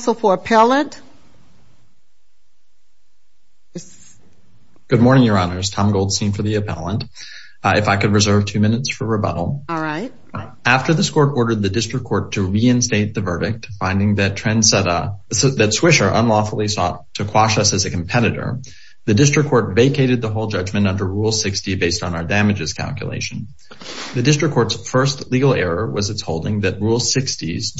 Counsel for Appellant. Good morning, Your Honors. Tom Goldstein for the appellant. If I could reserve two minutes for rebuttal. All right. After this court ordered the district court to reinstate the verdict, finding that Swisher unlawfully sought to quash us as a competitor, the district court vacated the whole judgment under Rule 60 based on our damages calculation. The district court's first legal error was its holding that Rule 60's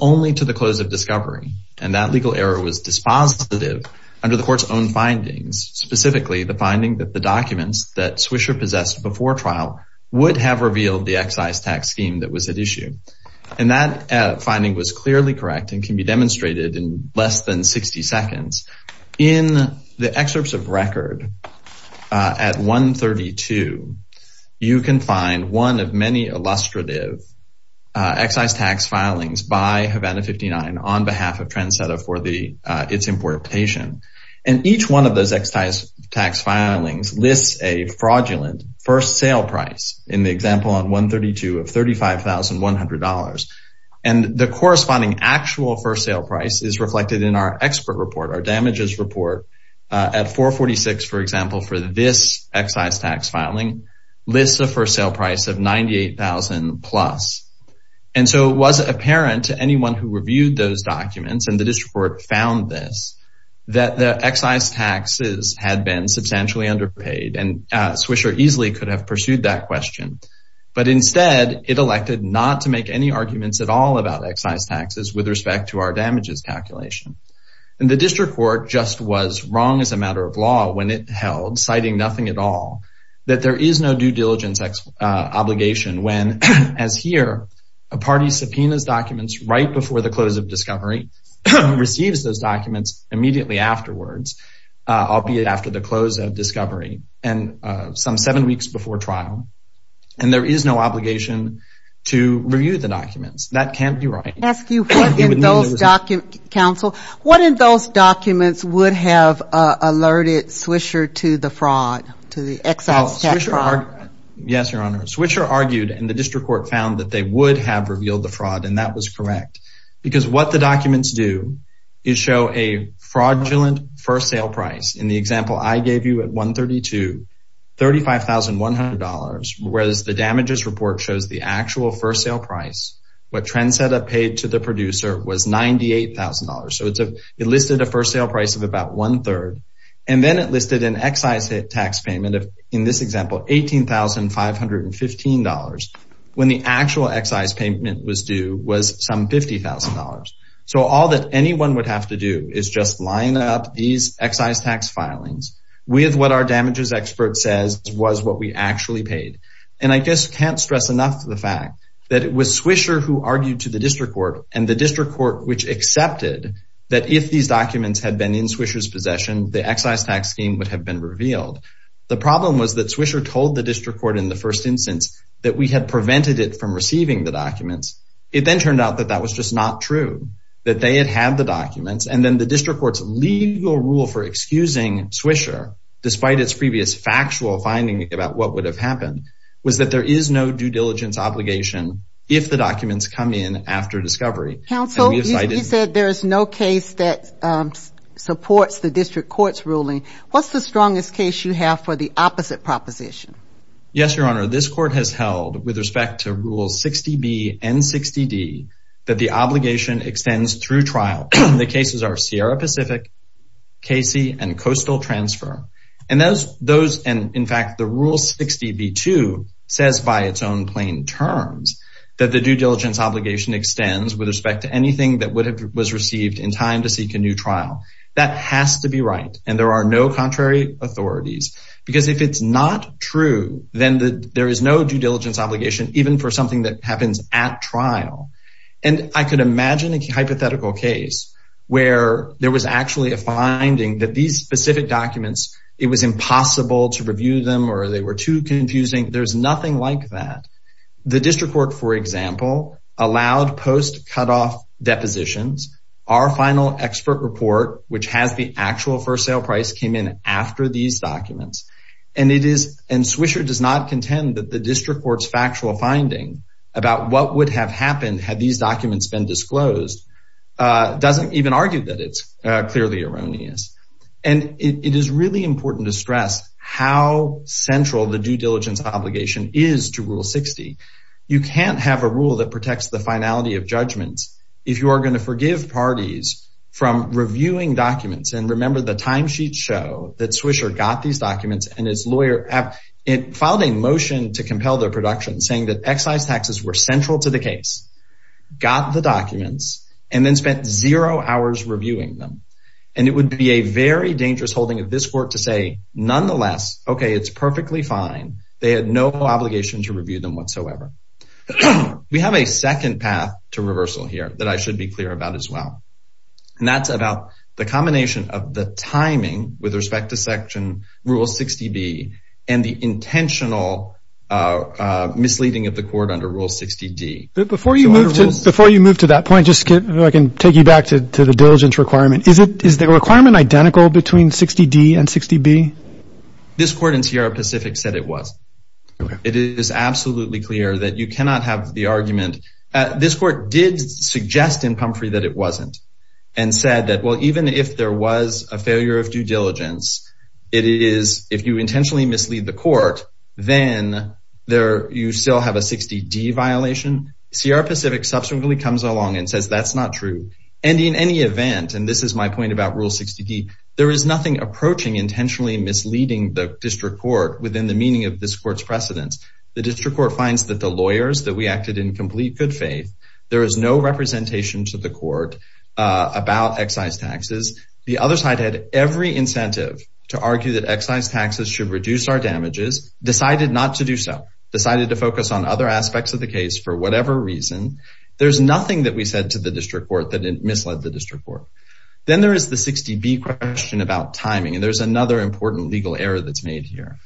only to the close of discovery. And that legal error was dispositive under the court's own findings, specifically the finding that the documents that Swisher possessed before trial would have revealed the excise tax scheme that was at issue. And that finding was clearly correct and can be demonstrated in less than 60 seconds. In the excerpts of record at 132, you can find one of many illustrative excise tax filings by Havana 59 on behalf of Trendsetter for its importation. And each one of those excise tax filings lists a fraudulent first sale price, in the example on 132, of $35,100. And the corresponding actual first sale price is reflected in our expert report, our damages report, at 446, for example, for this excise tax filing, lists a first sale price of $98,000 plus. And so it was apparent to anyone who reviewed those documents, and the district court found this, that the excise taxes had been substantially underpaid, and Swisher easily could have pursued that question. But instead, it elected not to make any arguments at all about excise taxes with respect to our damages calculation. And the district court just was wrong as a matter of law when it held, citing nothing at all, that there is no due diligence obligation when, as here, a party subpoenas documents right before the close of discovery, receives those documents immediately afterwards, albeit after the close of discovery and some seven weeks before trial, and there is no obligation to review the documents. That can't be right. I want to ask you what in those documents, counsel, what in those documents would have alerted Swisher to the fraud, to the excise tax fraud? Yes, Your Honor. Swisher argued, and the district court found, that they would have revealed the fraud, and that was correct. Because what the documents do is show a fraudulent first sale price. In the example I gave you at 132, $35,100, whereas the damages report shows the actual first sale price, what Trend Setup paid to the producer was $98,000. So it listed a first sale price of about one-third, and then it listed an excise tax payment of, in this example, $18,515, when the actual excise payment was due was some $50,000. So all that anyone would have to do is just line up these excise tax filings with what our damages expert says was what we actually paid. And I just can't stress enough the fact that it was Swisher who argued to the district court, and the district court which accepted that if these documents had been in Swisher's possession, the excise tax scheme would have been revealed. The problem was that Swisher told the district court in the first instance that we had prevented it from receiving the documents. It then turned out that that was just not true, that they had had the documents, and then the district court's legal rule for excusing Swisher, despite its previous factual finding about what would have happened, was that there is no due diligence obligation if the documents come in after discovery. Counsel, you said there is no case that supports the district court's ruling. What's the strongest case you have for the opposite proposition? Yes, Your Honor, this court has held with respect to Rules 60B and 60D that the obligation extends through trial. The cases are Sierra Pacific, Casey, and Coastal Transfer. And in fact, the Rule 60B-2 says by its own plain terms that the due diligence obligation extends with respect to anything that was received in time to seek a new trial. That has to be right, and there are no contrary authorities. Because if it's not true, then there is no due diligence obligation even for something that happens at trial. And I could imagine a hypothetical case where there was actually a finding that these specific documents, it was impossible to review them or they were too confusing. There's nothing like that. The district court, for example, allowed post-cutoff depositions. Our final expert report, which has the actual first sale price, came in after these documents. And Swisher does not contend that the district court's factual finding about what would have happened had these documents been disclosed doesn't even argue that it's clearly erroneous. And it is really important to stress how central the due diligence obligation is to Rule 60. You can't have a rule that protects the finality of judgments if you are going to forgive parties from reviewing documents. And remember the timesheets show that Swisher got these documents and its lawyer filed a motion to compel their production saying that excise taxes were central to the case, got the documents, and then spent zero hours reviewing them. And it would be a very dangerous holding of this court to say, nonetheless, okay, it's perfectly fine. They had no obligation to review them whatsoever. We have a second path to reversal here that I should be clear about as well. And that's about the combination of the timing with respect to Section Rule 60B and the intentional misleading of the court under Rule 60D. Before you move to that point, I can take you back to the diligence requirement. Is the requirement identical between 60D and 60B? This court in Sierra Pacific said it wasn't. It is absolutely clear that you cannot have the argument. This court did suggest in Pumphrey that it wasn't and said that, well, even if there was a failure of due diligence, if you intentionally mislead the court, then you still have a 60D violation. Sierra Pacific subsequently comes along and says that's not true. And in any event, and this is my point about Rule 60D, there is nothing approaching intentionally misleading the district court within the meaning of this court's precedence. The district court finds that the lawyers, that we acted in complete good faith, there is no representation to the court about excise taxes. The other side had every incentive to argue that excise taxes should reduce our damages, decided not to do so, decided to focus on other aspects of the case for whatever reason. There's nothing that we said to the district court that misled the district court. Then there is the 60B question about timing, and there's another important legal error that's made here.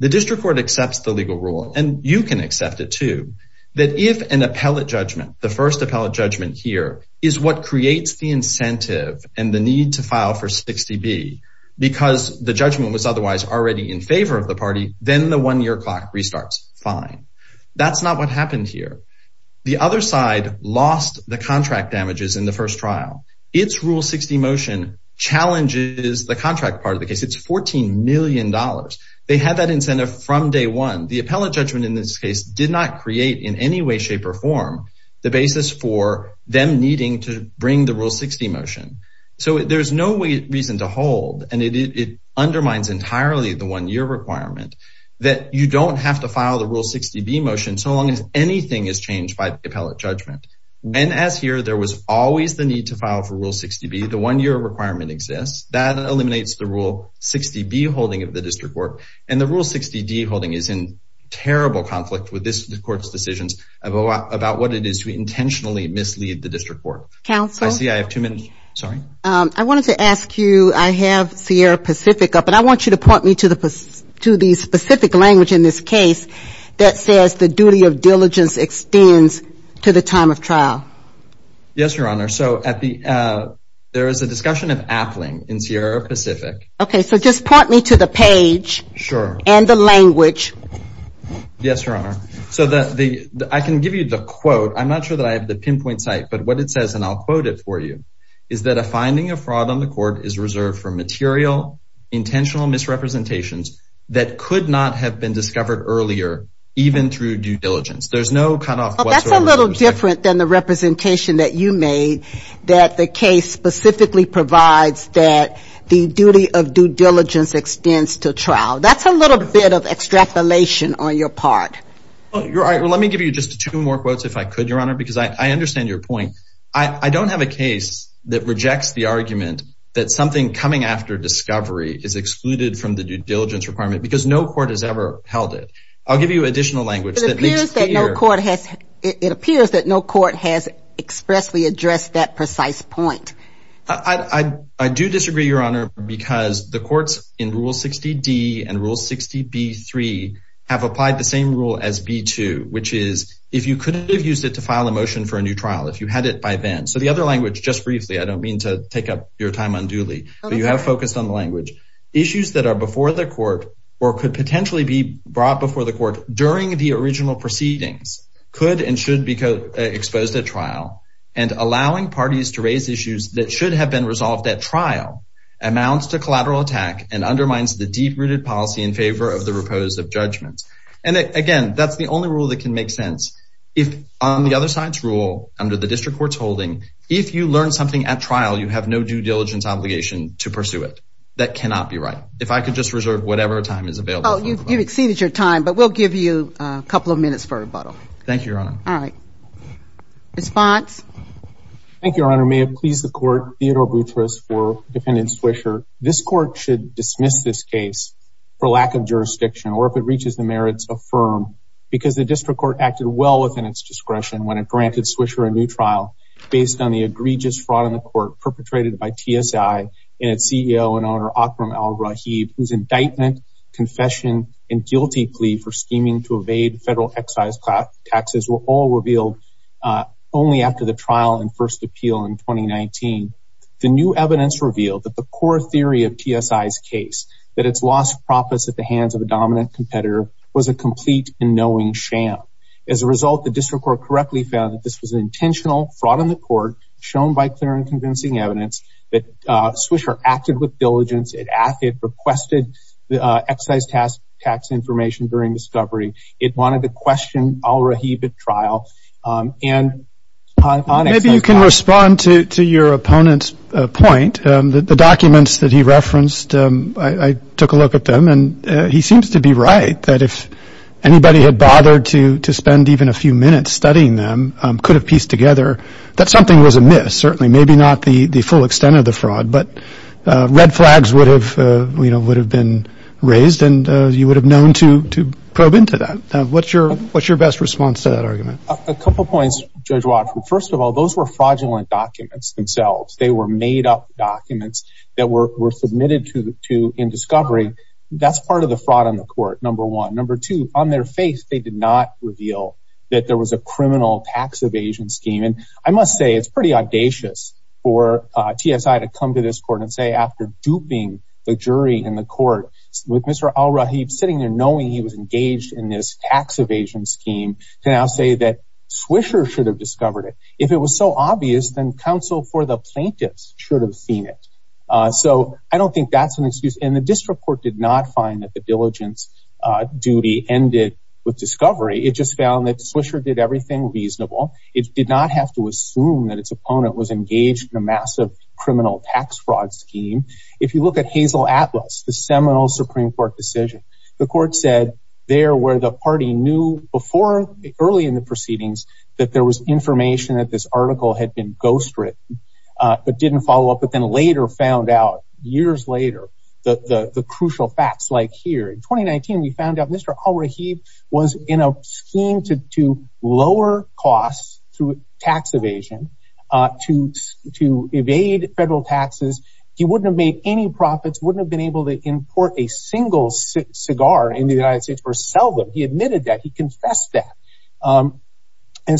The district court accepts the legal rule, and you can accept it too, that if an appellate judgment, the first appellate judgment here, is what creates the incentive and the need to file for 60B, because the judgment was otherwise already in favor of the party, then the one-year clock restarts. Fine. That's not what happened here. The other side lost the contract damages in the first trial. Its Rule 60 motion challenges the contract part of the case. It's $14 million. They had that incentive from day one. The appellate judgment in this case did not create in any way, shape, or form the basis for them needing to bring the Rule 60 motion. So there's no reason to hold, and it undermines entirely the one-year requirement, that you don't have to file the Rule 60B motion so long as anything is changed by the appellate judgment. And as here, there was always the need to file for Rule 60B. The one-year requirement exists. That eliminates the Rule 60B holding of the district court, and the Rule 60D holding is in terrible conflict with this court's decisions about what it is to intentionally mislead the district court. Counsel? I see I have two minutes. Sorry. I wanted to ask you, I have Sierra Pacific up, and I want you to point me to the specific language in this case that says the duty of diligence extends to the time of trial. Yes, Your Honor. So there is a discussion of appling in Sierra Pacific. Yes, Your Honor. I can give you the quote. I'm not sure that I have the pinpoint site, but what it says, and I'll quote it for you, is that a finding of fraud on the court is reserved for material, intentional misrepresentations that could not have been discovered earlier, even through due diligence. There's no cutoff whatsoever. That's a little different than the representation that you made, that the case specifically provides that the duty of due diligence extends to trial. That's a little bit of extrapolation on your part. Let me give you just two more quotes, if I could, Your Honor, because I understand your point. I don't have a case that rejects the argument that something coming after discovery is excluded from the due diligence requirement because no court has ever held it. I'll give you additional language. It appears that no court has expressly addressed that precise point. I do disagree, Your Honor, because the courts in Rule 60D and Rule 60B-3 have applied the same rule as B-2, which is if you could have used it to file a motion for a new trial, if you had it by then. So the other language, just briefly, I don't mean to take up your time unduly, but you have focused on the language. Issues that are before the court or could potentially be brought before the court during the original proceedings could and should be exposed at trial, and allowing parties to raise issues that should have been resolved at trial amounts to collateral attack and undermines the deep-rooted policy in favor of the repose of judgments. And, again, that's the only rule that can make sense. On the other side's rule, under the district court's holding, if you learn something at trial, you have no due diligence obligation to pursue it. That cannot be right. If I could just reserve whatever time is available. Oh, you've exceeded your time, but we'll give you a couple of minutes for rebuttal. Thank you, Your Honor. All right. Response? Thank you, Your Honor. Your Honor, may it please the court, Theodore Boutrous for defendant Swisher. This court should dismiss this case for lack of jurisdiction or if it reaches the merits, affirm, because the district court acted well within its discretion when it granted Swisher a new trial based on the egregious fraud in the court perpetrated by TSI and its CEO and owner, Akram Al-Rahib, whose indictment, confession, and guilty plea for scheming to evade federal excise taxes were all revealed only after the trial and first appeal in 2019. The new evidence revealed that the core theory of TSI's case, that it's lost profits at the hands of a dominant competitor, was a complete and knowing sham. As a result, the district court correctly found that this was an intentional fraud in the court shown by clear and convincing evidence that Swisher acted with diligence. It requested excise tax information during discovery. It wanted to question Al-Rahib at trial. Maybe you can respond to your opponent's point. The documents that he referenced, I took a look at them, and he seems to be right, that if anybody had bothered to spend even a few minutes studying them, could have pieced together that something was amiss, certainly maybe not the full extent of the fraud, but red flags would have been raised and you would have known to probe into that. What's your best response to that argument? A couple points, Judge Watford. First of all, those were fraudulent documents themselves. They were made-up documents that were submitted in discovery. That's part of the fraud on the court, number one. Number two, on their face, they did not reveal that there was a criminal tax evasion scheme. I must say it's pretty audacious for TSI to come to this court and say after duping the jury in the court with Mr. Al-Rahib sitting there knowing he was engaged in this tax evasion scheme, to now say that Swisher should have discovered it. If it was so obvious, then counsel for the plaintiffs should have seen it. I don't think that's an excuse. The district court did not find that the diligence duty ended with discovery. It just found that Swisher did everything reasonable. It did not have to assume that its opponent was engaged in a massive criminal tax fraud scheme. If you look at Hazel Atlas, the seminal Supreme Court decision, the court said there where the party knew before, early in the proceedings, that there was information that this article had been ghostwritten but didn't follow up, but then later found out, years later, the crucial facts like here. In 2019, we found out Mr. Al-Rahib was in a scheme to lower costs through tax evasion to evade federal taxes. He wouldn't have made any profits, wouldn't have been able to import a single cigar in the United States or sell them. He admitted that. He confessed that. I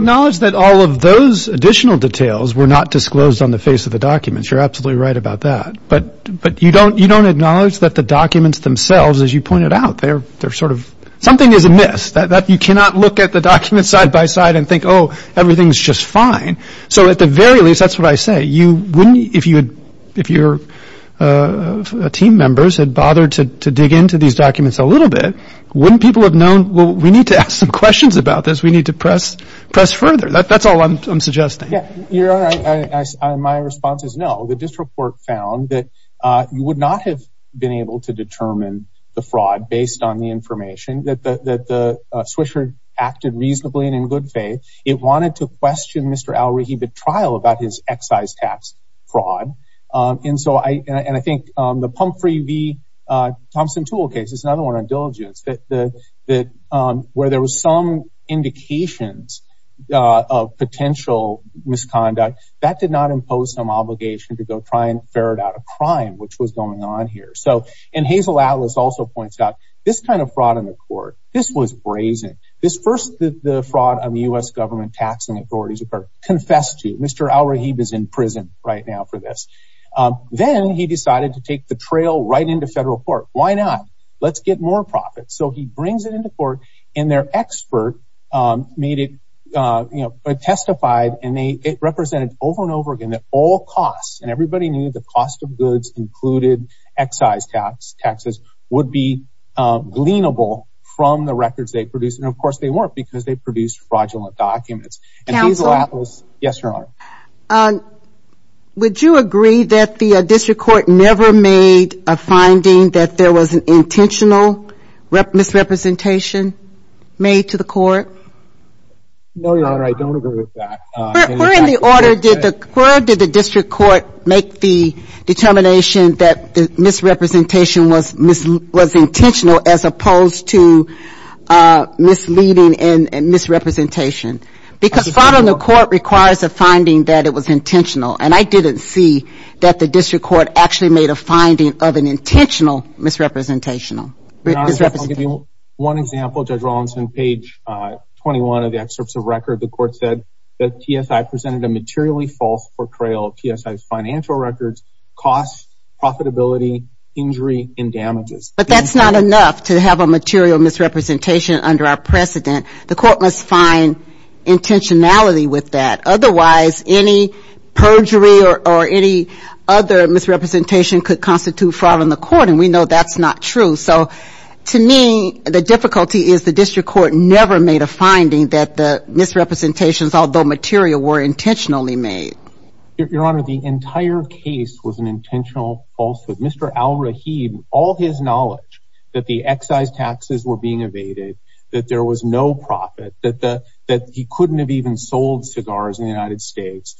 acknowledge that all of those additional details were not disclosed on the face of the documents. You're absolutely right about that. But you don't acknowledge that the documents themselves, as you pointed out, something is amiss. You cannot look at the documents side by side and think, oh, everything's just fine. So at the very least, that's what I say. If your team members had bothered to dig into these documents a little bit, wouldn't people have known, well, we need to ask some questions about this. We need to press further. That's all I'm suggesting. Your Honor, my response is no. The district court found that you would not have been able to determine the fraud based on the information, that the swisher acted reasonably and in good faith. It wanted to question Mr. Al-Rehibi's trial about his excise tax fraud. And I think the Pumphrey v. Thompson tool case is another one on diligence. Where there was some indications of potential misconduct, that did not impose some obligation to go try and ferret out a crime, which was going on here. And Hazel Atlas also points out, this kind of fraud on the court, this was brazen. This first fraud on the U.S. government taxing authorities confessed to. Mr. Al-Rehibi is in prison right now for this. Then he decided to take the trail right into federal court. Why not? Let's get more profits. So he brings it into court, and their expert testified, and it represented over and over again that all costs, and everybody knew the cost of goods included excise taxes, would be gleanable from the records they produced. And, of course, they weren't because they produced fraudulent documents. And Hazel Atlas, yes, Your Honor. Would you agree that the district court never made a finding that there was an intentional misrepresentation made to the court? No, Your Honor, I don't agree with that. Where in the order did the district court make the determination that misrepresentation was intentional as opposed to misleading and misrepresentation? Because fraud on the court requires a finding that it was intentional, and I didn't see that the district court actually made a finding of an intentional misrepresentation. Your Honor, I'll give you one example. Judge Rollins, on page 21 of the excerpts of record, the court said that TSI presented a materially false portrayal of TSI's financial records, costs, profitability, injury, and damages. But that's not enough to have a material misrepresentation under our precedent. The court must find intentionality with that. Otherwise, any perjury or any other misrepresentation could constitute fraud on the court, and we know that's not true. So, to me, the difficulty is the district court never made a finding that the misrepresentations, although material, were intentionally made. Your Honor, the entire case was an intentional falsehood. Mr. Al-Rahid, all his knowledge that the excise taxes were being evaded, that there was no profit, that he couldn't have even sold cigars in the United States,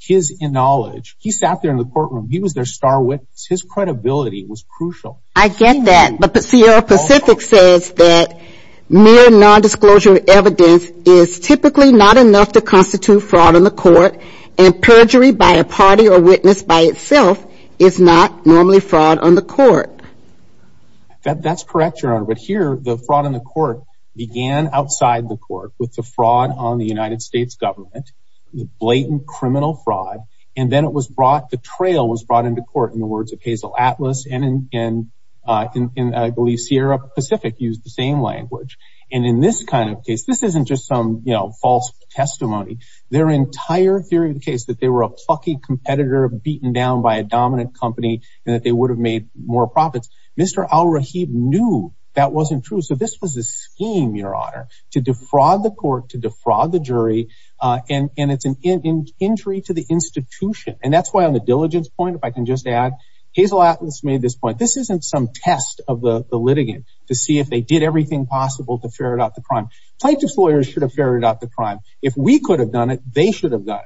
his knowledge, he sat there in the courtroom. He was their star witness. His credibility was crucial. I get that. But Sierra Pacific says that mere nondisclosure evidence is typically not enough to constitute fraud on the court, and perjury by a party or witness by itself is not normally fraud on the court. That's correct, Your Honor, but here the fraud on the court began outside the court with the fraud on the United States government, the blatant criminal fraud, and then it was brought, the trail was brought into court in the words of Hazel Atlas and I believe Sierra Pacific used the same language. And in this kind of case, this isn't just some false testimony. Their entire theory of the case that they were a plucky competitor beaten down by a dominant company and that they would have made more profits. Mr. Al-Rahid knew that wasn't true. So this was a scheme, Your Honor, to defraud the court, to defraud the jury, and it's an injury to the institution. And that's why on the diligence point, if I can just add, Hazel Atlas made this point. This isn't some test of the litigant to see if they did everything possible to ferret out the crime. Plaintiff's lawyers should have ferreted out the crime. If we could have done it, they should have done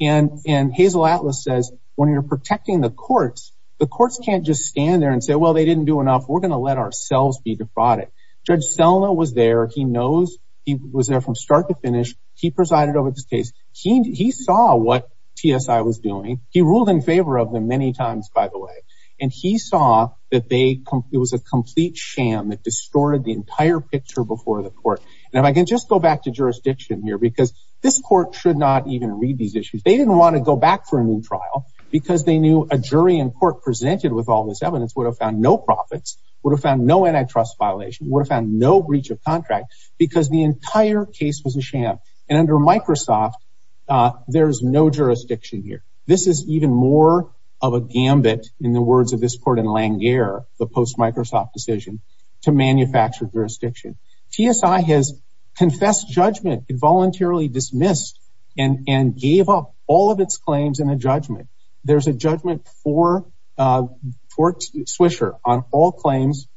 it. And Hazel Atlas says, when you're protecting the courts, the courts can't just stand there and say, well, they didn't do enough. We're going to let ourselves be defrauded. Judge Selma was there. He knows he was there from start to finish. He presided over this case. He saw what TSI was doing. He ruled in favor of them many times, by the way. And he saw that it was a complete sham that distorted the entire picture before the court. And if I can just go back to jurisdiction here, because this court should not even read these issues. They didn't want to go back for a new trial because they knew a jury in court presented with all this evidence would have found no profits, would have found no antitrust violation, would have found no breach of contract because the entire case was a sham. And under Microsoft, there's no jurisdiction here. This is even more of a gambit in the words of this court in Langare, the post-Microsoft decision, to manufacture jurisdiction. TSI has confessed judgment, voluntarily dismissed, and gave up all of its claims in a judgment. There's a judgment for Swisher on all claims,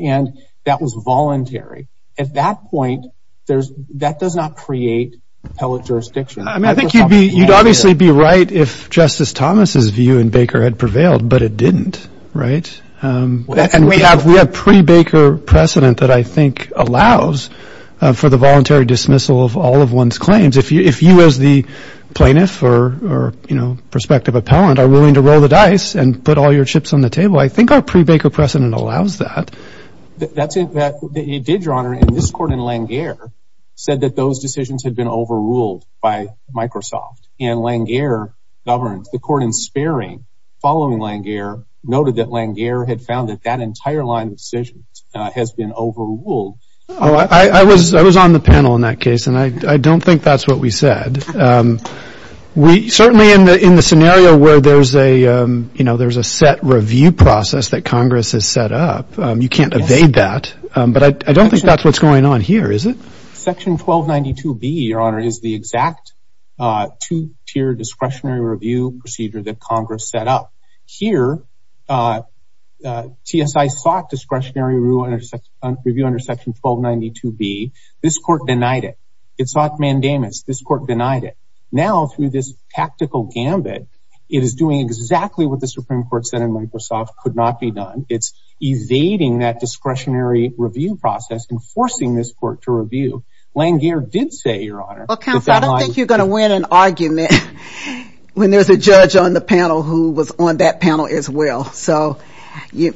and that was voluntary. At that point, that does not create appellate jurisdiction. I think you'd obviously be right if Justice Thomas' view in Baker had prevailed, but it didn't, right? And we have pre-Baker precedent that I think allows for the voluntary dismissal of all of one's claims. If you as the plaintiff or prospective appellant are willing to roll the dice and put all your chips on the table, I think our pre-Baker precedent allows that. It did, Your Honor, and this court in Langare said that those decisions had been overruled by Microsoft. And Langare governed. The court in Sparing, following Langare, noted that Langare had found that that entire line of decisions has been overruled. I was on the panel in that case, and I don't think that's what we said. Certainly in the scenario where there's a set review process that Congress has set up, you can't evade that, but I don't think that's what's going on here, is it? Section 1292B, Your Honor, is the exact two-tier discretionary review procedure that Congress set up. Here, TSI sought discretionary review under Section 1292B. This court denied it. It sought mandamus. This court denied it. Now, through this tactical gambit, it is doing exactly what the Supreme Court said in Microsoft could not be done. It's evading that discretionary review process and forcing this court to review. Langare did say, Your Honor, that that line... Well, counsel, I don't think you're going to win an argument when there's a judge on the panel who was on that panel as well. So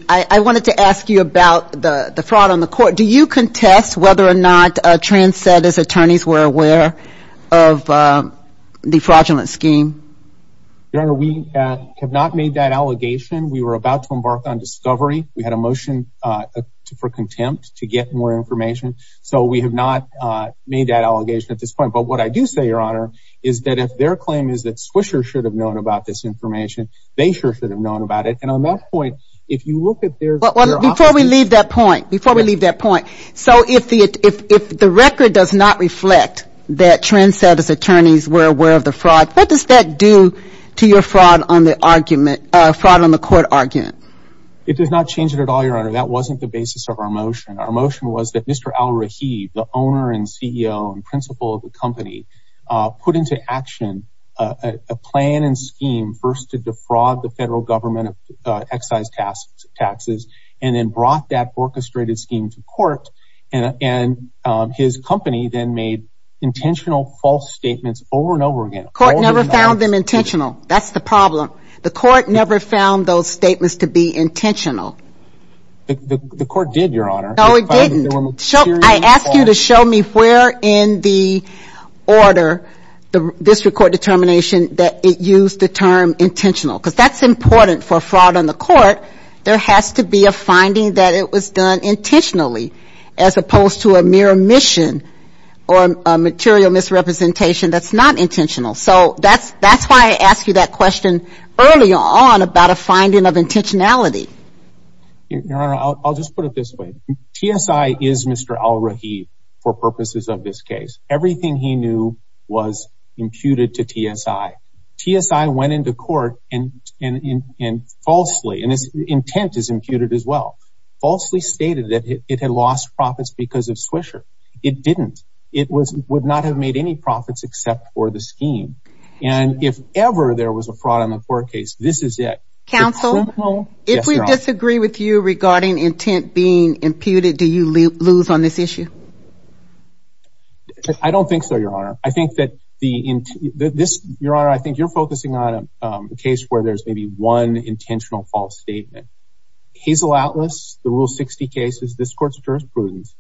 I wanted to ask you about the fraud on the court. Do you contest whether or not Tran said, as attorneys were aware, of the fraudulent scheme? Your Honor, we have not made that allegation. We were about to embark on discovery. We had a motion for contempt to get more information. So we have not made that allegation at this point. But what I do say, Your Honor, is that if their claim is that Swisher should have known about this information, they sure should have known about it. And on that point, if you look at their... Before we leave that point, before we leave that point, so if the record does not reflect that Tran said, as attorneys, were aware of the fraud, what does that do to your fraud on the argument, fraud on the court argument? It does not change it at all, Your Honor. That wasn't the basis of our motion. Our motion was that Mr. Al-Rahid, the owner and CEO and principal of the company, put into action a plan and scheme first to defraud the federal government and his company then made intentional false statements over and over again. The court never found them intentional. That's the problem. The court never found those statements to be intentional. The court did, Your Honor. No, it didn't. I asked you to show me where in the order, this record determination, that it used the term intentional. Because that's important for fraud on the court. There has to be a finding that it was done intentionally as opposed to a mere omission or a material misrepresentation that's not intentional. So that's why I asked you that question earlier on about a finding of intentionality. Your Honor, I'll just put it this way. TSI is Mr. Al-Rahid for purposes of this case. Everything he knew was imputed to TSI. TSI went into court and falsely, and intent is imputed as well, falsely stated that it had lost profits because of Swisher. It didn't. It would not have made any profits except for the scheme. And if ever there was a fraud on the court case, this is it. Counsel, if we disagree with you regarding intent being imputed, do you lose on this issue? I don't think so, Your Honor. Your Honor, I think you're focusing on a case where there's maybe one intentional false statement. Hazel Atlas, the Rule 60 case is this court's jurisprudence.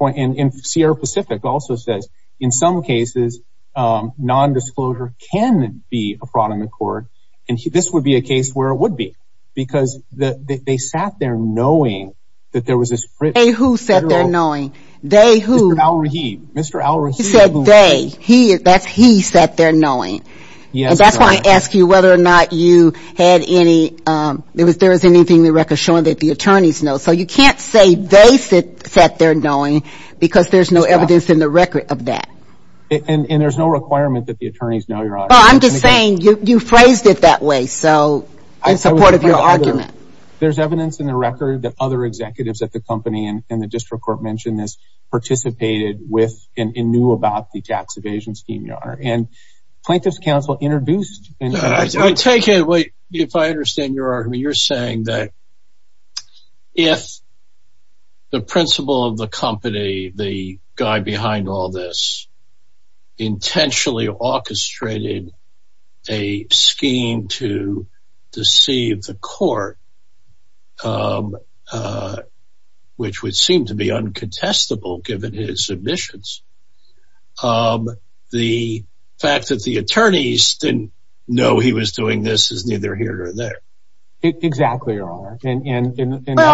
And Sierra Pacific also says, in some cases, nondisclosure can be a fraud on the court. And this would be a case where it would be because they sat there knowing that there was this. They who sat there knowing? They who? Mr. Al-Rahid. He said they. That's he sat there knowing. Yes, Your Honor. And that's why I asked you whether or not you had any, if there was anything in the record showing that the attorneys know. So you can't say they sat there knowing because there's no evidence in the record of that. And there's no requirement that the attorneys know, Your Honor. Well, I'm just saying you phrased it that way in support of your argument. There's evidence in the record that other executives at the company, and the district court mentioned this, participated with, and knew about the tax evasion scheme, Your Honor. And plaintiff's counsel introduced. I take it, if I understand your argument, you're saying that if the principal of the company, the guy behind all this, intentionally orchestrated a scheme to deceive the court, which would seem to be uncontestable given his submissions, the fact that the attorneys didn't know he was doing this is neither here or there. Exactly, Your Honor. Well,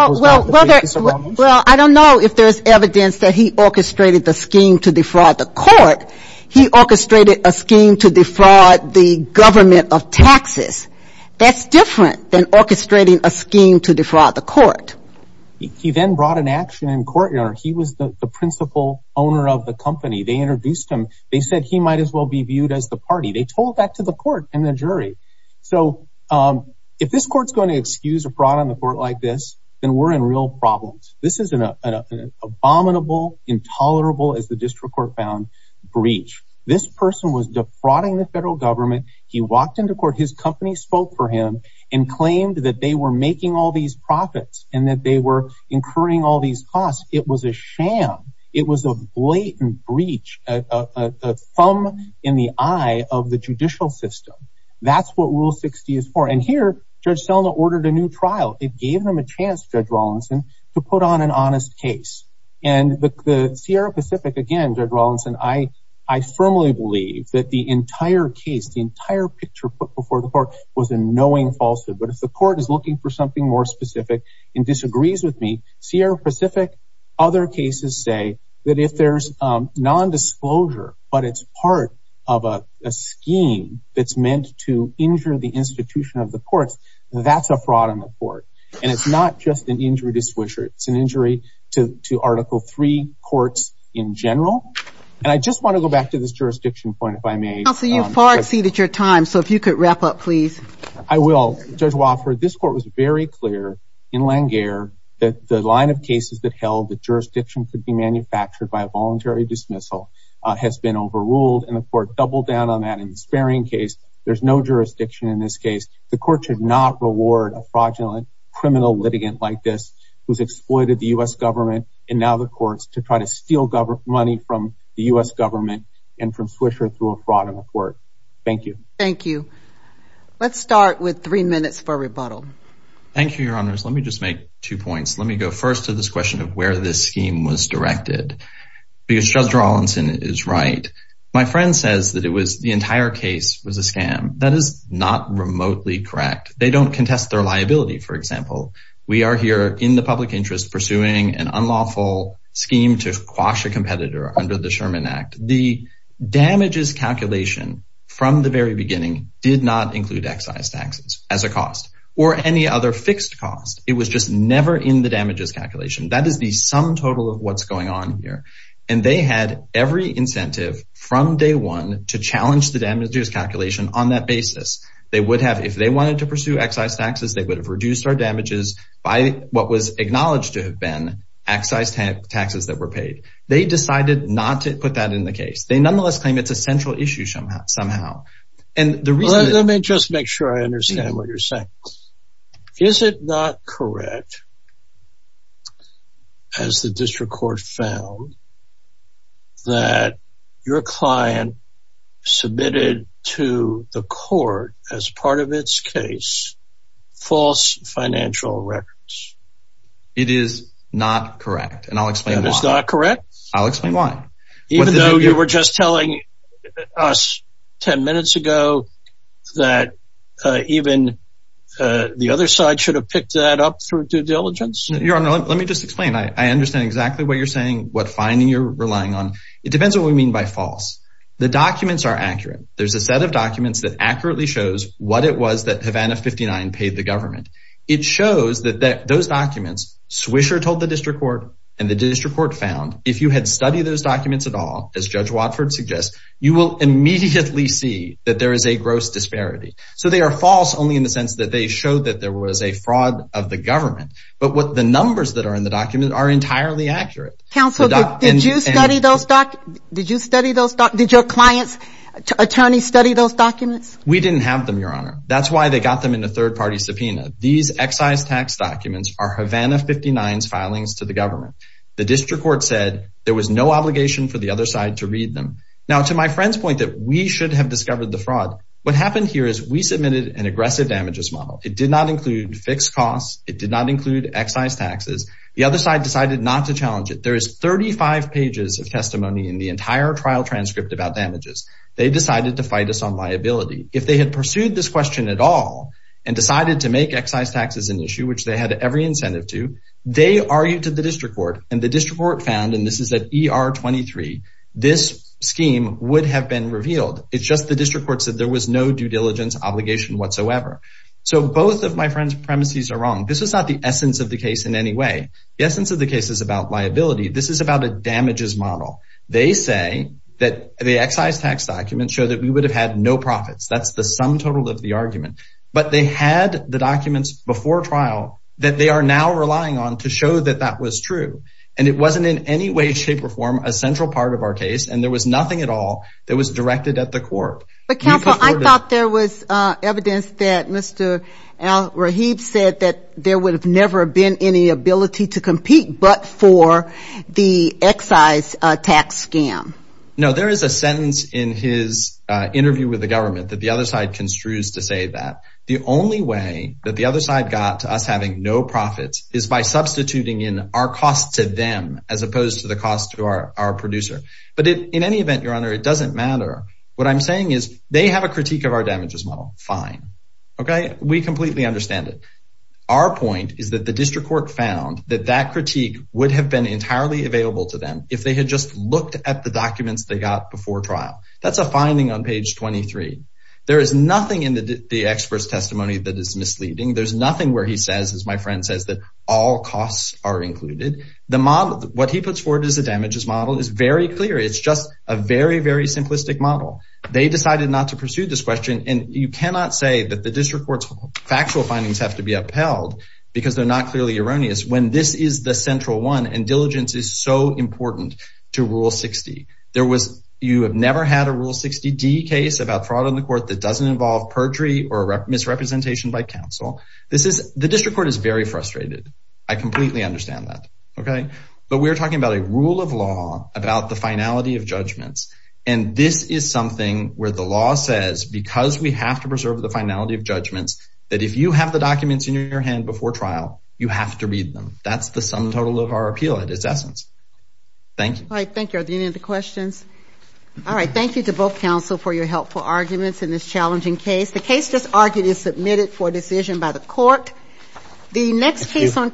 I don't know if there's evidence that he orchestrated the scheme to defraud the court. He orchestrated a scheme to defraud the government of taxes. That's different than orchestrating a scheme to defraud the court. He then brought an action in court, Your Honor. He was the principal owner of the company. They introduced him. They said he might as well be viewed as the party. They told that to the court and the jury. So if this court's going to excuse a fraud on the court like this, then we're in real problems. This is an abominable, intolerable, as the district court found, breach. This person was defrauding the federal government. He walked into court. His company spoke for him and claimed that they were making all these profits and that they were incurring all these costs. It was a sham. It was a blatant breach, a thumb in the eye of the judicial system. That's what Rule 60 is for. And here, Judge Selma ordered a new trial. It gave him a chance, Judge Rawlinson, to put on an honest case. And the Sierra Pacific, again, Judge Rawlinson, I firmly believe that the entire case, the entire picture put before the court was a knowing falsehood. But if the court is looking for something more specific and disagrees with me, Sierra Pacific, other cases say that if there's nondisclosure, but it's part of a scheme that's meant to injure the institution of the courts, that's a fraud on the court. And it's not just an injury disclosure. It's an injury to Article III courts in general. And I just want to go back to this jurisdiction point, if I may. Counsel, you've far exceeded your time. So if you could wrap up, please. I will. Judge Wofford, this court was very clear in Langear that the line of cases that held that jurisdiction could be manufactured by a voluntary dismissal has been overruled. And the court doubled down on that in the Sparing case. There's no jurisdiction in this case. The court should not reward a fraudulent criminal litigant like this who's exploited the U.S. government. And now the court's to try to steal money from the U.S. government and from Swisher through a fraudulent court. Thank you. Thank you. Let's start with three minutes for rebuttal. Thank you, Your Honors. Let me just make two points. Let me go first to this question of where this scheme was directed. Because Judge Rawlinson is right. My friend says that it was the entire case was a scam. That is not remotely correct. They don't contest their liability, for example. We are here in the public interest pursuing an unlawful scheme to quash a The damages calculation from the very beginning did not include excise taxes as a cost or any other fixed cost. It was just never in the damages calculation. That is the sum total of what's going on here. And they had every incentive from day one to challenge the damages calculation on that basis. They would have, if they wanted to pursue excise taxes, they would have reduced our damages by what was acknowledged to have been excise taxes that were paid. They decided not to put that in the case. They nonetheless claim it's a central issue somehow. Let me just make sure I understand what you're saying. Is it not correct, as the district court found, that your client submitted to the court, as part of its case, false financial records? It is not correct, and I'll explain why. It is not correct? I'll explain why. Even though you were just telling us 10 minutes ago that even the other side should have picked that up through due diligence? Your Honor, let me just explain. I understand exactly what you're saying, what finding you're relying on. It depends on what we mean by false. The documents are accurate. There's a set of documents that accurately shows what it was that Havana 59 paid the government. It shows that those documents, Swisher told the district court, and the district court found, if you had studied those documents at all, as Judge Watford suggests, you will immediately see that there is a gross disparity. So they are false only in the sense that they showed that there was a fraud of the government. But the numbers that are in the documents are entirely accurate. Counsel, did you study those documents? Did your client's attorney study those documents? We didn't have them, Your Honor. That's why they got them in a third-party subpoena. These excise tax documents are Havana 59's filings to the government. The district court said there was no obligation for the other side to read them. Now, to my friend's point that we should have discovered the fraud, what happened here is we submitted an aggressive damages model. It did not include fixed costs. It did not include excise taxes. The other side decided not to challenge it. There is 35 pages of testimony in the entire trial transcript about damages. They decided to fight us on liability. If they had pursued this question at all and decided to make excise taxes an issue, which they had every incentive to, they argued to the district court. And the district court found, and this is at ER 23, this scheme would have been revealed. It's just the district court said there was no due diligence obligation whatsoever. So both of my friend's premises are wrong. This is not the essence of the case in any way. The essence of the case is about liability. This is about a damages model. They say that the excise tax documents show that we would have had no profits. That's the sum total of the argument. But they had the documents before trial that they are now relying on to show that that was true. And it wasn't in any way, shape, or form a central part of our case. And there was nothing at all that was directed at the court. But counsel, I thought there was evidence that Mr. Al Rahib said that there would have never been any ability to compete, but for the excise tax scam. No, there is a sentence in his interview with the government that the other side construes to say that the only way that the other side got to us having no profits is by substituting in our costs to them, as opposed to the cost to our producer. But in any event, your honor, it doesn't matter. What I'm saying is they have a critique of our damages model. Fine. Okay. We completely understand it. Our point is that the district court found that that critique would have been entirely available to them. If they had just looked at the documents they got before trial, that's a finding on page 23. There is nothing in the experts' testimony that is misleading. There's nothing where he says, as my friend says, that all costs are included. The model, what he puts forward as a damages model is very clear. It's just a very, very simplistic model. They decided not to pursue this question. And you cannot say that the district court's factual findings have to be upheld because they're not clearly erroneous when this is the central one and diligence is so important to rule 60. There was, you have never had a rule 60 D case about fraud on the court that doesn't involve perjury or misrepresentation by council. This is the district court is very frustrated. I completely understand that. Okay. But we're talking about a rule of law about the finality of judgments. And this is something where the law says, because we have to preserve the finality of judgments, that if you have the documents in your hand before trial, you have to read them. That's the sum total of our appeal at its essence. Thank you. All right. Thank you. Are there any other questions? All right. Thank you to both council for your helpful arguments in this challenging case. The case just argued is submitted for decision by the court. The next case on.